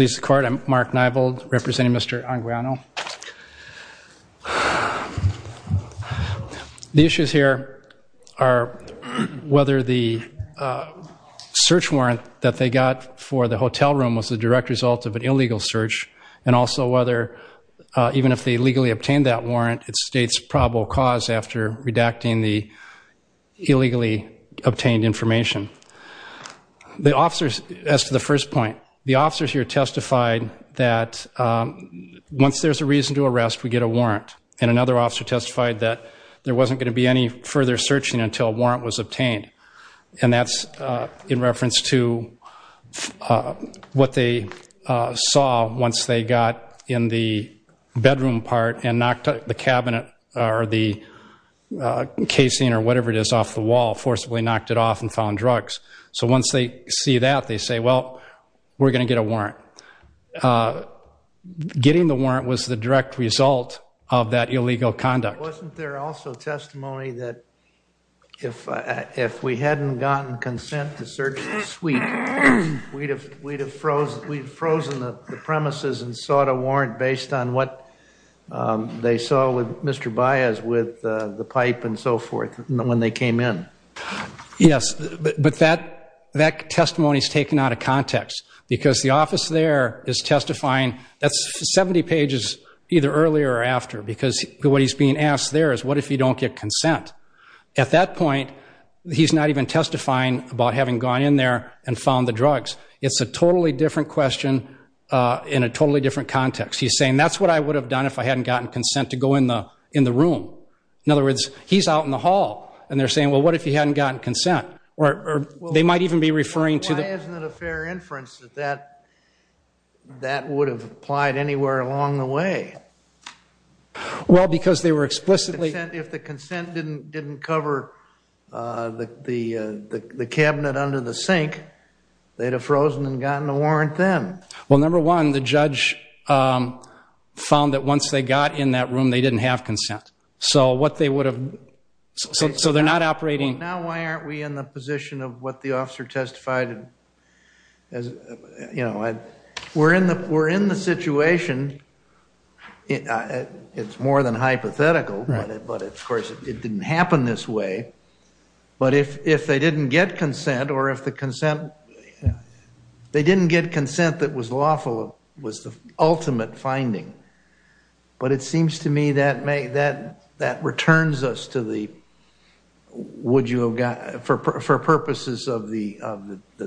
I'm Mark Neibold, representing Mr. Anguiano. The issues here are whether the search warrant that they got for the hotel room was the direct result of an illegal search, and also whether, even if they legally obtained that warrant, it states probable cause after redacting the illegally obtained information. As to the first point, the officers here testified that once there's a reason to arrest, we get a warrant. And another officer testified that there wasn't going to be any further searching until a warrant was obtained. And that's in reference to what they saw once they got in the bedroom part and knocked the cabinet or the casing or whatever it is off the wall, forcibly knocked it off and found drugs. So once they see that, they say, well, we're going to get a warrant. Getting the warrant was the direct result of that illegal conduct. Wasn't there also testimony that if we hadn't gotten consent to search the suite, we'd have frozen the premises and sought a warrant based on what they saw with Mr. Baez with the pipe and so forth when they came in? Yes, but that testimony is taken out of context because the office there is testifying. That's 70 pages either earlier or after because what he's being asked there is, what if you don't get consent? At that point, he's not even testifying about having gone in there and found the drugs. It's a totally different question in a totally different context. He's saying, that's what I would have done if I hadn't gotten consent to go in the room. In other words, he's out in the hall, and they're saying, well, what if he hadn't gotten consent? Or they might even be referring to the- Why isn't it a fair inference that that would have applied anywhere along the way? Well, because they were explicitly- If the consent didn't cover the cabinet under the sink, they'd have frozen and gotten a warrant then. Well, number one, the judge found that once they got in that room, they didn't have consent. So what they would have- So they're not operating- Now, why aren't we in the position of what the officer testified? We're in the situation. It's more than hypothetical, but of course, it didn't happen this way. But if they didn't get consent, or if the consent- They didn't get consent that was lawful, was the ultimate finding. But it seems to me that returns us to the- Would you have gotten- For purposes of the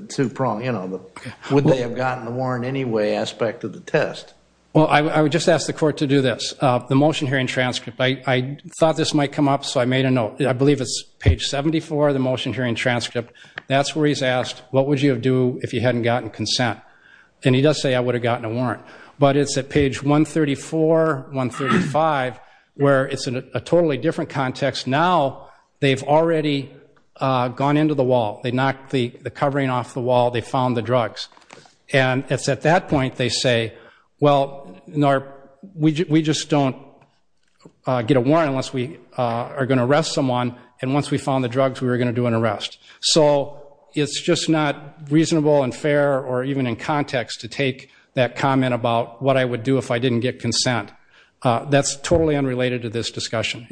two-prong, you know, the would they have gotten the warrant anyway aspect of the test. Well, I would just ask the court to do this. The motion hearing transcript, I thought this might come up, so I made a note. I believe it's page 74 of the motion hearing transcript. That's where he's asked, what would you have do if you hadn't gotten consent? And he does say, I would have gotten a warrant. But it's at page 134, 135, where it's a totally different context. Now, they've already gone into the wall. They knocked the covering off the wall. They found the drugs. And it's at that point they say, well, we just don't get a warrant unless we are going to arrest someone. And once we found the drugs, we were going to do an arrest. So it's just not reasonable and fair or even in context to take that comment about what I would do if I didn't get consent. That's totally unrelated to this discussion.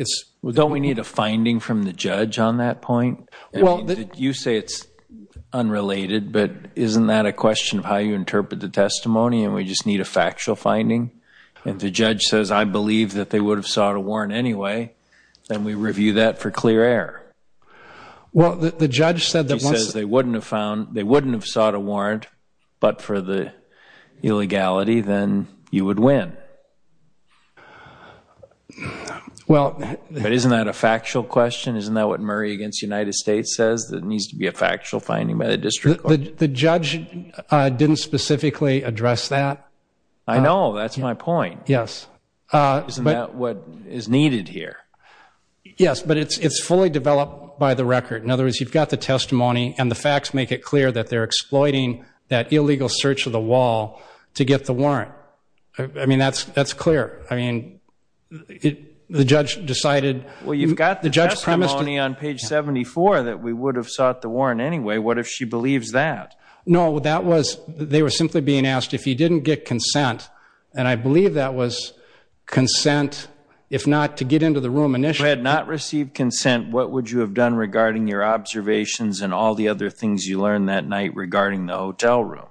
Don't we need a finding from the judge on that point? You say it's unrelated, but isn't that a question of how you interpret the testimony and we just need a factual finding? And the judge says, I believe that they would have sought a warrant anyway. Then we review that for clear error. Well, the judge said that once they wouldn't have sought a warrant but for the illegality, then you would win. But isn't that a factual question? Isn't that what Murray against the United States says that it needs to be a factual finding by the district court? The judge didn't specifically address that. I know. That's my point. Yes. Isn't that what is needed here? Yes, but it's fully developed by the record. In other words, you've got the testimony and the facts make it clear that they're exploiting that illegal search of the wall to get the warrant. I mean, that's clear. I mean, the judge decided. Well, you've got the testimony on page 74 that we would have sought the warrant anyway. What if she believes that? No, that was they were simply being asked if he didn't get consent. And I believe that was consent if not to get into the room initially. If you had not received consent, what would you have done regarding your observations and all the other things you learned that night regarding the hotel room?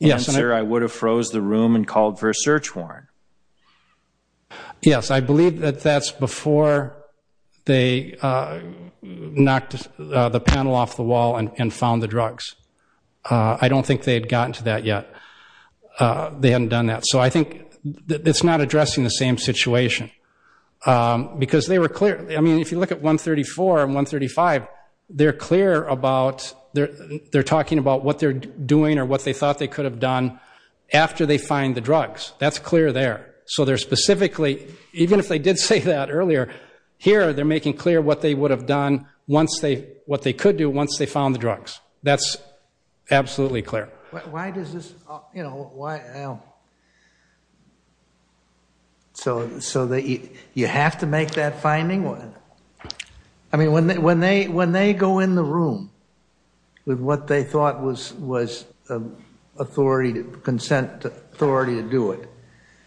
Yes, sir. I would have froze the room and called for a search warrant. Yes, I believe that that's before they knocked the panel off the wall and found the drugs. I don't think they had gotten to that yet. They hadn't done that. So I think it's not addressing the same situation because they were clear. I mean, if you look at 134 and 135, they're talking about what they're doing or what they thought they could have done after they find the drugs. That's clear there. So they're specifically, even if they did say that earlier, here they're making clear what they could do once they found the drugs. That's absolutely clear. Why does this? So you have to make that finding? I mean, when they go in the room with what they thought was consent authority to do it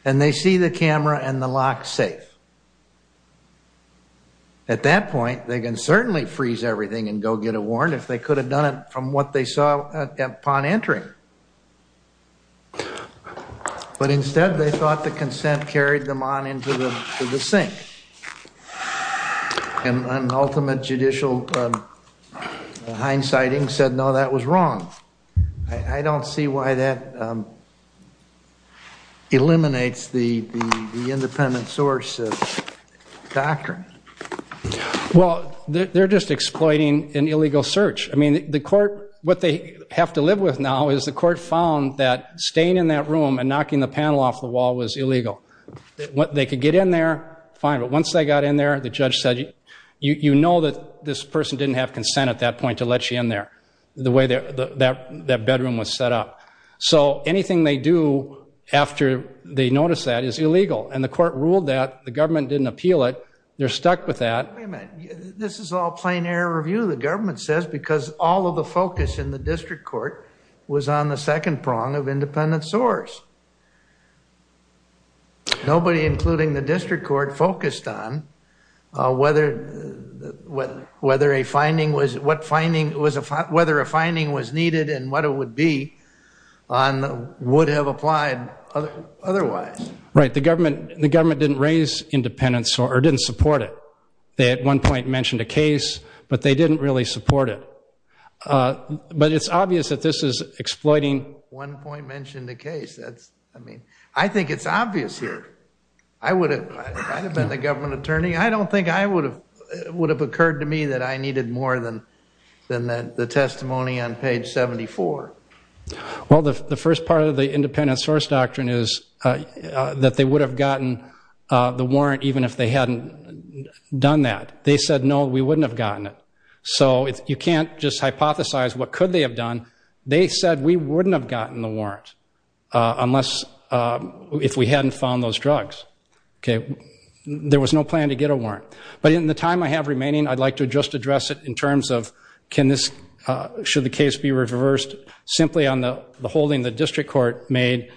and they see the camera and the lock safe, at that point, they can certainly freeze everything and go get a warrant if they could have done it from what they saw upon entering. But instead, they thought the consent carried them on into the sink. And ultimate judicial hindsighting said, no, that was wrong. I don't see why that eliminates the independent source doctrine. Well, they're just exploiting an illegal search. I mean, what they have to live with now is the court found that staying in that room and knocking the panel off the wall was illegal. They could get in there, fine. But once they got in there, the judge said, you know that this person didn't have consent at that point to let you in there, the way that bedroom was set up. So anything they do after they notice that is illegal. And the court ruled that. The government didn't appeal it. They're stuck with that. Wait a minute. This is all plain air review. The government says because all of the focus in the district court was on the second prong of independent source. Nobody, including the district court, focused on whether a finding was needed and what it would be on would have applied otherwise. Right. The government didn't support it. They at one point mentioned a case, but they didn't really support it. But it's obvious that this is exploiting. One point mentioned a case. I think it's obvious here. I would have been the government attorney. I don't think it would have occurred to me that I needed more than the testimony on page 74. Well, the first part of the independent source doctrine is that they would have gotten the warrant even if they hadn't done that. They said, no, we wouldn't have gotten it. So you can't just hypothesize what could they have done. They said we wouldn't have gotten the warrant unless if we hadn't found those drugs. Okay. There was no plan to get a warrant. But in the time I have remaining, I'd like to just address it in terms of can this, should the case be reversed simply on the holding the district court made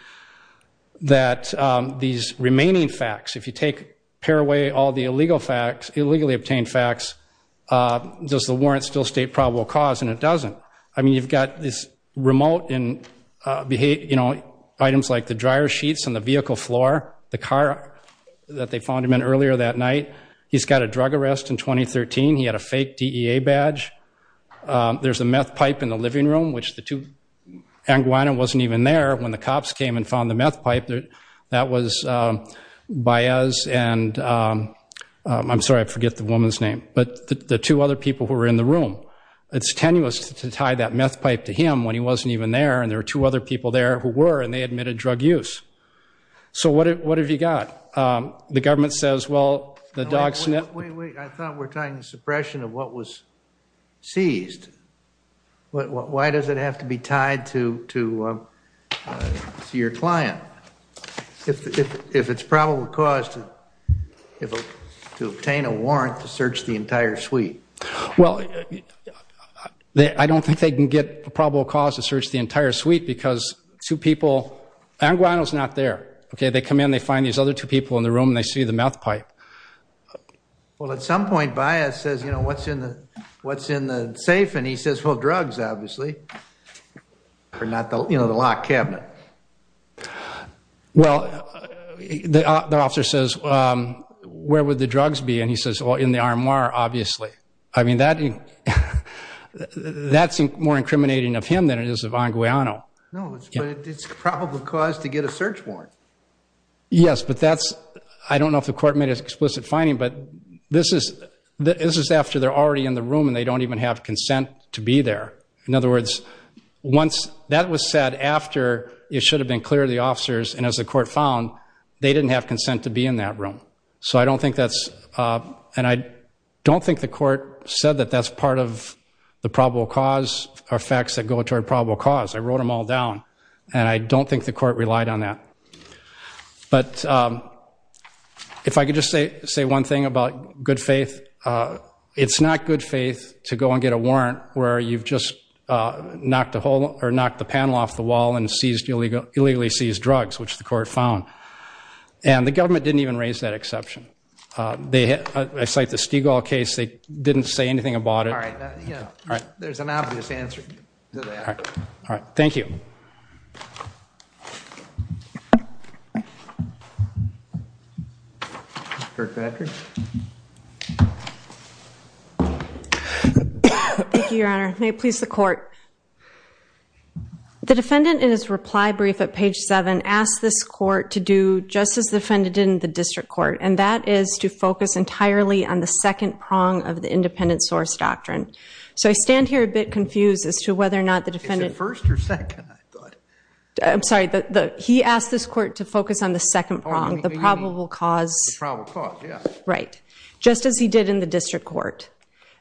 that these remaining facts, if you take away all the illegal facts, illegally obtained facts, does the warrant still state probable cause? And it doesn't. I mean, you've got this remote in items like the dryer sheets on the vehicle floor, the car that they found him in earlier that night. He's got a drug arrest in 2013. He had a fake DEA badge. There's a meth pipe in the living room, which the two Anguano wasn't even there when the cops came and found the meth pipe. That was Baez and I'm sorry, I forget the woman's name, but the two other people who were in the room. It's tenuous to tie that meth pipe to him when he wasn't even there, and there were two other people there who were, and they admitted drug use. So what have you got? The government says, well, the dog sniffed. Wait, wait. I thought we're tying the suppression of what was seized. Why does it have to be tied to your client if it's probable cause to obtain a warrant to search the entire suite? Well, I don't think they can get a probable cause to search the entire suite because two people, Anguano's not there. They come in, they find these other two people in the room, and they see the meth pipe. Well, at some point, Baez says, you know, what's in the safe? And he says, well, drugs, obviously. You know, the locked cabinet. Well, the officer says, where would the drugs be? And he says, well, in the RMR, obviously. I mean, that's more incriminating of him than it is of Anguano. No, but it's probable cause to get a search warrant. Yes, but that's – I don't know if the court made an explicit finding, but this is after they're already in the room and they don't even have consent to be there. In other words, that was said after it should have been clear to the officers, and as the court found, they didn't have consent to be in that room. So I don't think that's – and I don't think the court said that that's part of the probable cause or facts that go toward probable cause. I wrote them all down, and I don't think the court relied on that. But if I could just say one thing about good faith, it's not good faith to go and get a warrant where you've just knocked the panel off the wall and illegally seized drugs, which the court found. And the government didn't even raise that exception. I cite the Stigall case. They didn't say anything about it. All right. There's an obvious answer to that. All right. Thank you. Thank you, Your Honor. May it please the court. The defendant, in his reply brief at page 7, asked this court to do just as the defendant did in the district court, and that is to focus entirely on the second prong of the independent source doctrine. So I stand here a bit confused as to whether or not the defendant – Is it first or second, I thought? I'm sorry. He asked this court to focus on the second prong, the probable cause. The probable cause, yeah. Right. Just as he did in the district court.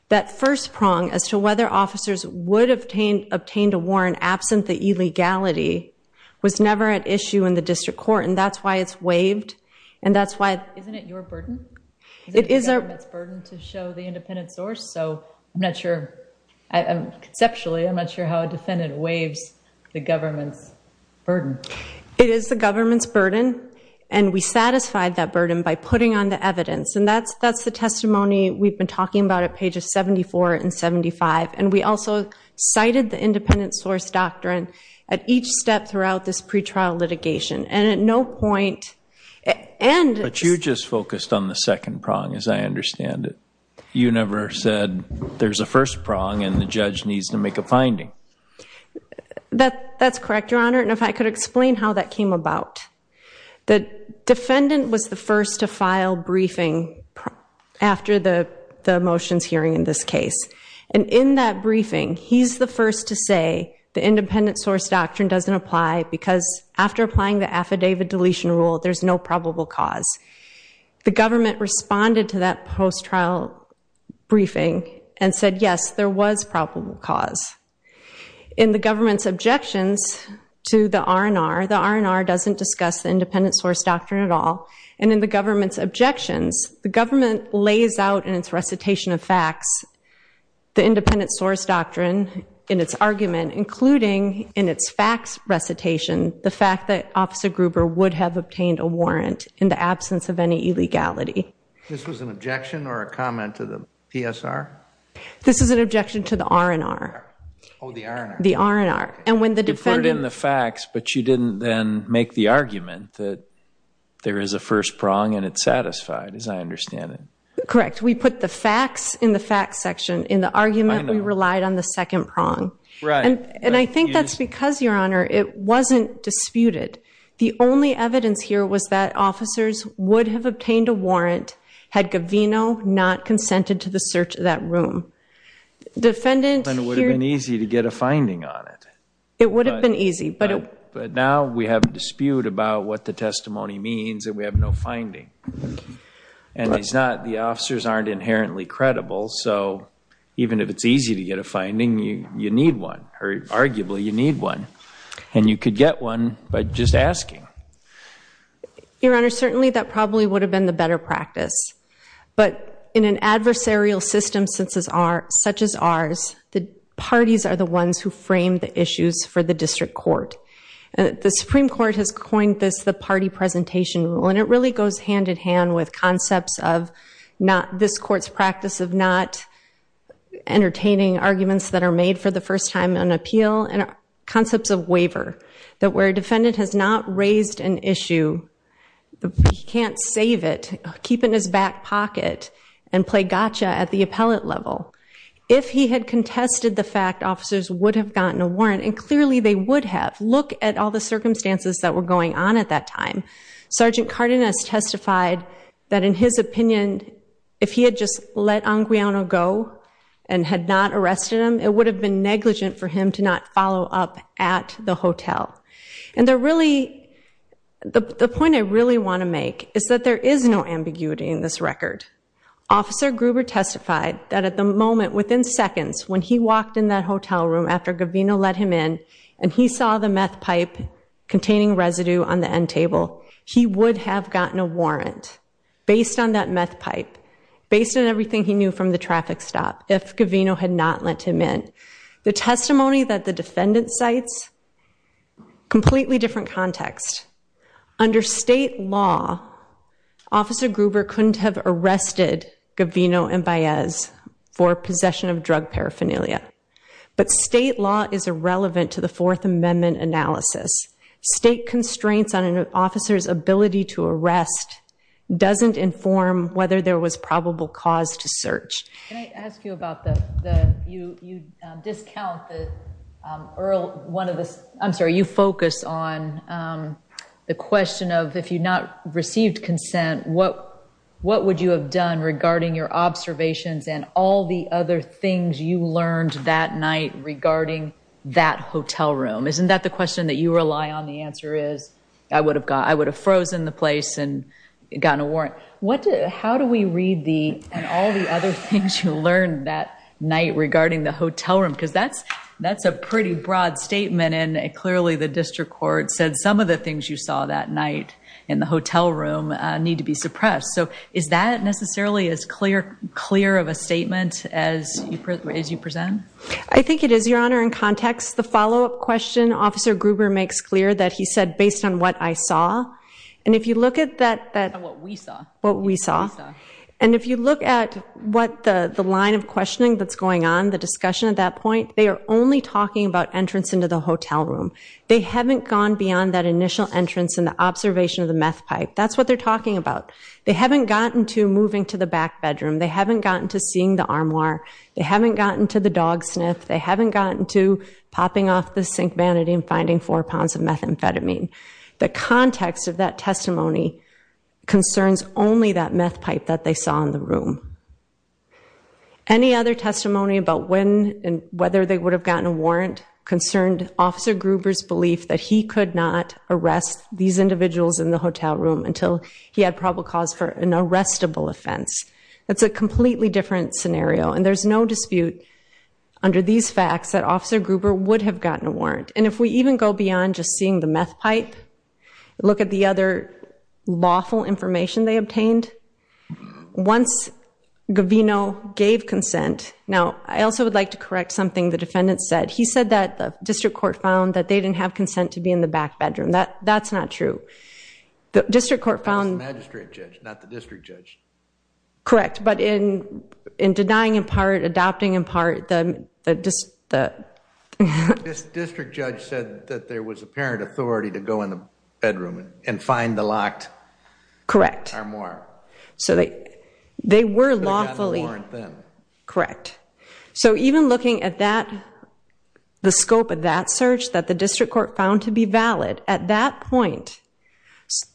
That first prong as to whether officers would have obtained a warrant absent the illegality was never at issue in the district court, and that's why it's waived, and that's why – Isn't it your burden? Is it the government's burden to show the independent source? So I'm not sure – conceptually, I'm not sure how a defendant waives the government's burden. It is the government's burden, and we satisfied that burden by putting on the evidence, and that's the testimony we've been talking about at pages 74 and 75, and we also cited the independent source doctrine at each step throughout this pretrial litigation, and at no point – But you just focused on the second prong, as I understand it. You never said there's a first prong and the judge needs to make a finding. That's correct, Your Honor, and if I could explain how that came about. The defendant was the first to file briefing after the motions hearing in this case, and in that briefing he's the first to say the independent source doctrine doesn't apply because after applying the affidavit deletion rule, there's no probable cause. The government responded to that post-trial briefing and said, yes, there was probable cause. In the government's objections to the R&R, the R&R doesn't discuss the independent source doctrine at all, and in the government's objections, the government lays out in its recitation of facts the independent source doctrine in its argument, including in its facts recitation, the fact that Officer Gruber would have obtained a warrant in the absence of any illegality. This was an objection or a comment to the PSR? This is an objection to the R&R. Oh, the R&R. The R&R, and when the defendant – You put it in the facts, but you didn't then make the argument that there is a first prong and it's satisfied, as I understand it. Correct. We put the facts in the facts section in the argument. I know. We relied on the second prong. Right. And I think that's because, Your Honor, it wasn't disputed. The only evidence here was that officers would have obtained a warrant had Govino not consented to the search of that room. Defendant here – Then it would have been easy to get a finding on it. It would have been easy, but – But now we have a dispute about what the testimony means and we have no finding. And the officers aren't inherently credible, so even if it's easy to get a finding, you need one. Arguably, you need one. And you could get one by just asking. Your Honor, certainly that probably would have been the better practice. But in an adversarial system such as ours, the parties are the ones who frame the issues for the district court. The Supreme Court has coined this the party presentation rule, and it really goes hand-in-hand with concepts of this court's practice of not entertaining arguments that are made for the first time on appeal and concepts of waiver, that where a defendant has not raised an issue, he can't save it, keep it in his back pocket, and play gotcha at the appellate level. If he had contested the fact officers would have gotten a warrant, and clearly they would have, look at all the circumstances that were going on at that time. Sergeant Cardenas testified that in his opinion, if he had just let Anguiano go and had not arrested him, it would have been negligent for him to not follow up at the hotel. And the point I really want to make is that there is no ambiguity in this record. Officer Gruber testified that at the moment, within seconds, when he walked in that hotel room after Govino let him in and he saw the meth pipe containing residue on the end table, he would have gotten a warrant based on that meth pipe, based on everything he knew from the traffic stop, if Govino had not let him in. The testimony that the defendant cites, completely different context. Under state law, Officer Gruber couldn't have arrested Govino and Baez for possession of drug paraphernalia. But state law is irrelevant to the Fourth Amendment analysis. State constraints on an officer's ability to arrest doesn't inform whether there was probable cause to search. Can I ask you about the, you discount the Earl, one of the, I'm sorry, you focus on the question of if you not received consent, what would you have done regarding your observations and all the other things you learned that night regarding that hotel room? Isn't that the question that you rely on? The answer is, I would have frozen the place and gotten a warrant. How do we read the and all the other things you learned that night regarding the hotel room? Because that's a pretty broad statement, and clearly the district court said some of the things you saw that night in the hotel room need to be suppressed. So is that necessarily as clear of a statement as you present? I think it is, Your Honor, in context. The follow-up question Officer Gruber makes clear that he said, based on what I saw, and if you look at that. What we saw. What we saw. And if you look at what the line of questioning that's going on, the discussion at that point, they are only talking about entrance into the hotel room. They haven't gone beyond that initial entrance and the observation of the meth pipe. That's what they're talking about. They haven't gotten to moving to the back bedroom. They haven't gotten to seeing the armoire. They haven't gotten to the dog sniff. They haven't gotten to popping off the sink vanity and finding four pounds of methamphetamine. The context of that testimony concerns only that meth pipe that they saw in the room. Any other testimony about when and whether they would have gotten a warrant concerned Officer Gruber's that he could not arrest these individuals in the hotel room until he had probable cause for an arrestable offense. That's a completely different scenario, and there's no dispute under these facts that Officer Gruber would have gotten a warrant. And if we even go beyond just seeing the meth pipe, look at the other lawful information they obtained, once Govino gave consent, now I also would like to correct something the defendant said. He said that the district court found that they didn't have consent to be in the back bedroom. That's not true. The district court found... That was the magistrate judge, not the district judge. Correct. But in denying in part, adopting in part, the... The district judge said that there was apparent authority to go in the bedroom and find the locked armoire. Correct. So they were lawfully... They could have gotten a warrant then. Correct. So even looking at that, the scope of that search, that the district court found to be valid, at that point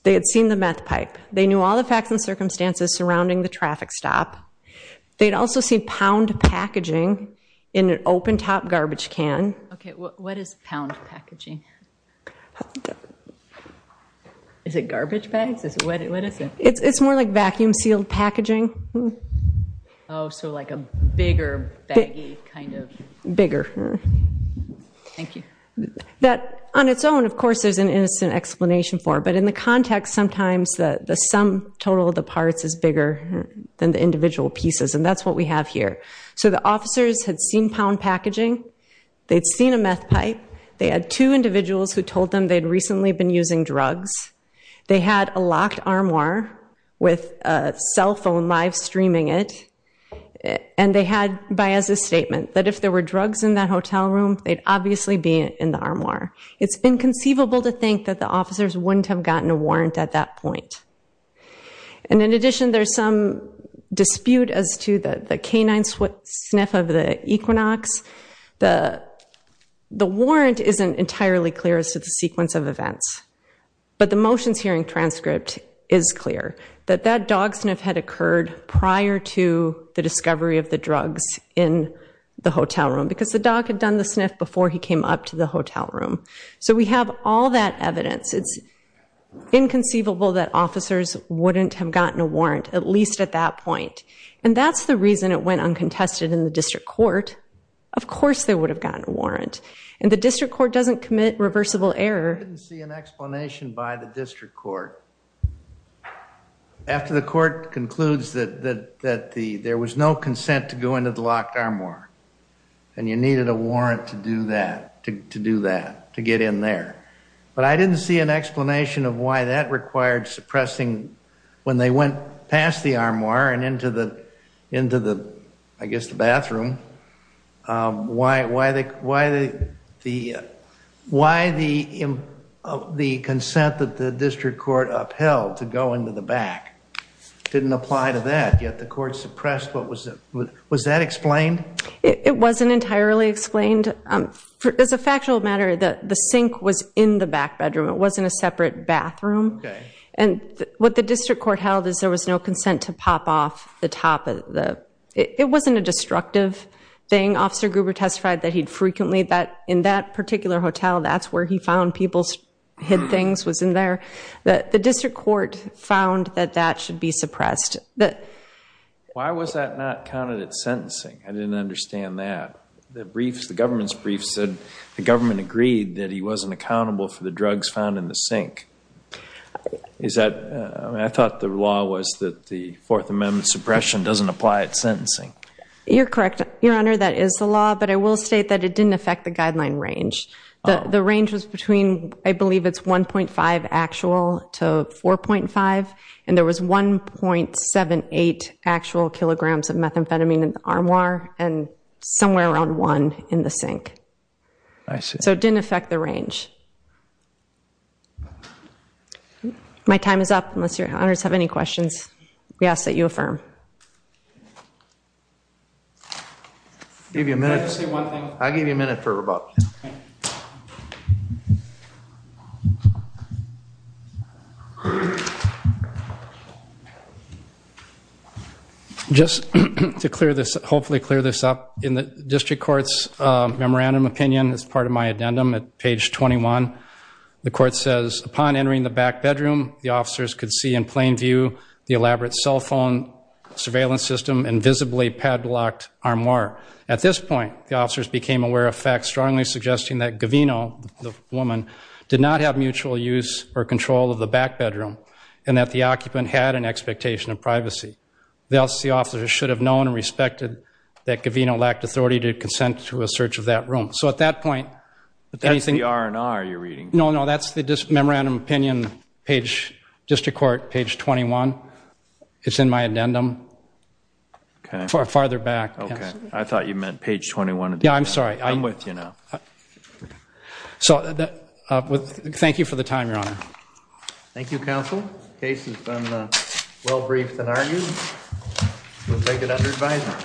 they had seen the meth pipe. They knew all the facts and circumstances surrounding the traffic stop. They had also seen pound packaging in an open-top garbage can. Okay, what is pound packaging? Is it garbage bags? What is it? It's more like vacuum-sealed packaging. Oh, so like a bigger, baggy kind of... Bigger. Thank you. On its own, of course, there's an innocent explanation for it. But in the context, sometimes the sum total of the parts is bigger than the individual pieces, and that's what we have here. So the officers had seen pound packaging. They'd seen a meth pipe. They had two individuals who told them they'd recently been using drugs. They had a locked armoire with a cell phone live-streaming it. And they had, as a statement, that if there were drugs in that hotel room, they'd obviously be in the armoire. It's inconceivable to think that the officers wouldn't have gotten a warrant at that point. And in addition, there's some dispute as to the canine sniff of the Equinox. The warrant isn't entirely clear as to the sequence of events. But the motions hearing transcript is clear, that that dog sniff had occurred prior to the discovery of the drugs in the hotel room, because the dog had done the sniff before he came up to the hotel room. So we have all that evidence. It's inconceivable that officers wouldn't have gotten a warrant, at least at that point. And that's the reason it went uncontested in the district court. Of course they would have gotten a warrant. And the district court doesn't commit reversible error. I didn't see an explanation by the district court. After the court concludes that there was no consent to go into the locked armoire, and you needed a warrant to do that, to get in there. But I didn't see an explanation of why that required suppressing, when they went past the armoire and into the bathroom, why the consent that the district court upheld to go into the back didn't apply to that. Yet the court suppressed. Was that explained? It wasn't entirely explained. As a factual matter, the sink was in the back bedroom. It wasn't a separate bathroom. And what the district court held is there was no consent to pop off the top. It wasn't a destructive thing. Officer Gruber testified that he'd frequently, in that particular hotel, that's where he found people's hid things, was in there. The district court found that that should be suppressed. Why was that not counted as sentencing? I didn't understand that. The government's brief said the government agreed that he wasn't accountable for the drugs found in the sink. I thought the law was that the Fourth Amendment suppression doesn't apply at sentencing. You're correct, Your Honor, that is the law, but I will state that it didn't affect the guideline range. The range was between, I believe it's 1.5 actual to 4.5, and there was 1.78 actual kilograms of methamphetamine in the armoire and somewhere around 1 in the sink. So it didn't affect the range. My time is up, unless Your Honors have any questions. Yes, that you affirm. Can I just say one thing? I'll give you a minute for rebuttal. Just to hopefully clear this up, in the district court's memorandum opinion as part of my addendum at page 21, the court says, upon entering the back bedroom, the officers could see in plain view the elaborate cell phone surveillance system and visibly padlocked armoire. At this point, the officers became aware of facts strongly suggesting that Gavino, the woman, did not have mutual use or control of the back bedroom and that the occupant had an expectation of privacy. Thus, the officers should have known and respected that Gavino lacked authority to consent to a search of that room. But that's the R&R you're reading. No, no, that's the memorandum opinion page, district court page 21. It's in my addendum. Farther back. Okay. I thought you meant page 21. Yeah, I'm sorry. I'm with you now. So thank you for the time, Your Honor. Thank you, counsel. The case has been well briefed and argued. We'll take it under advisement.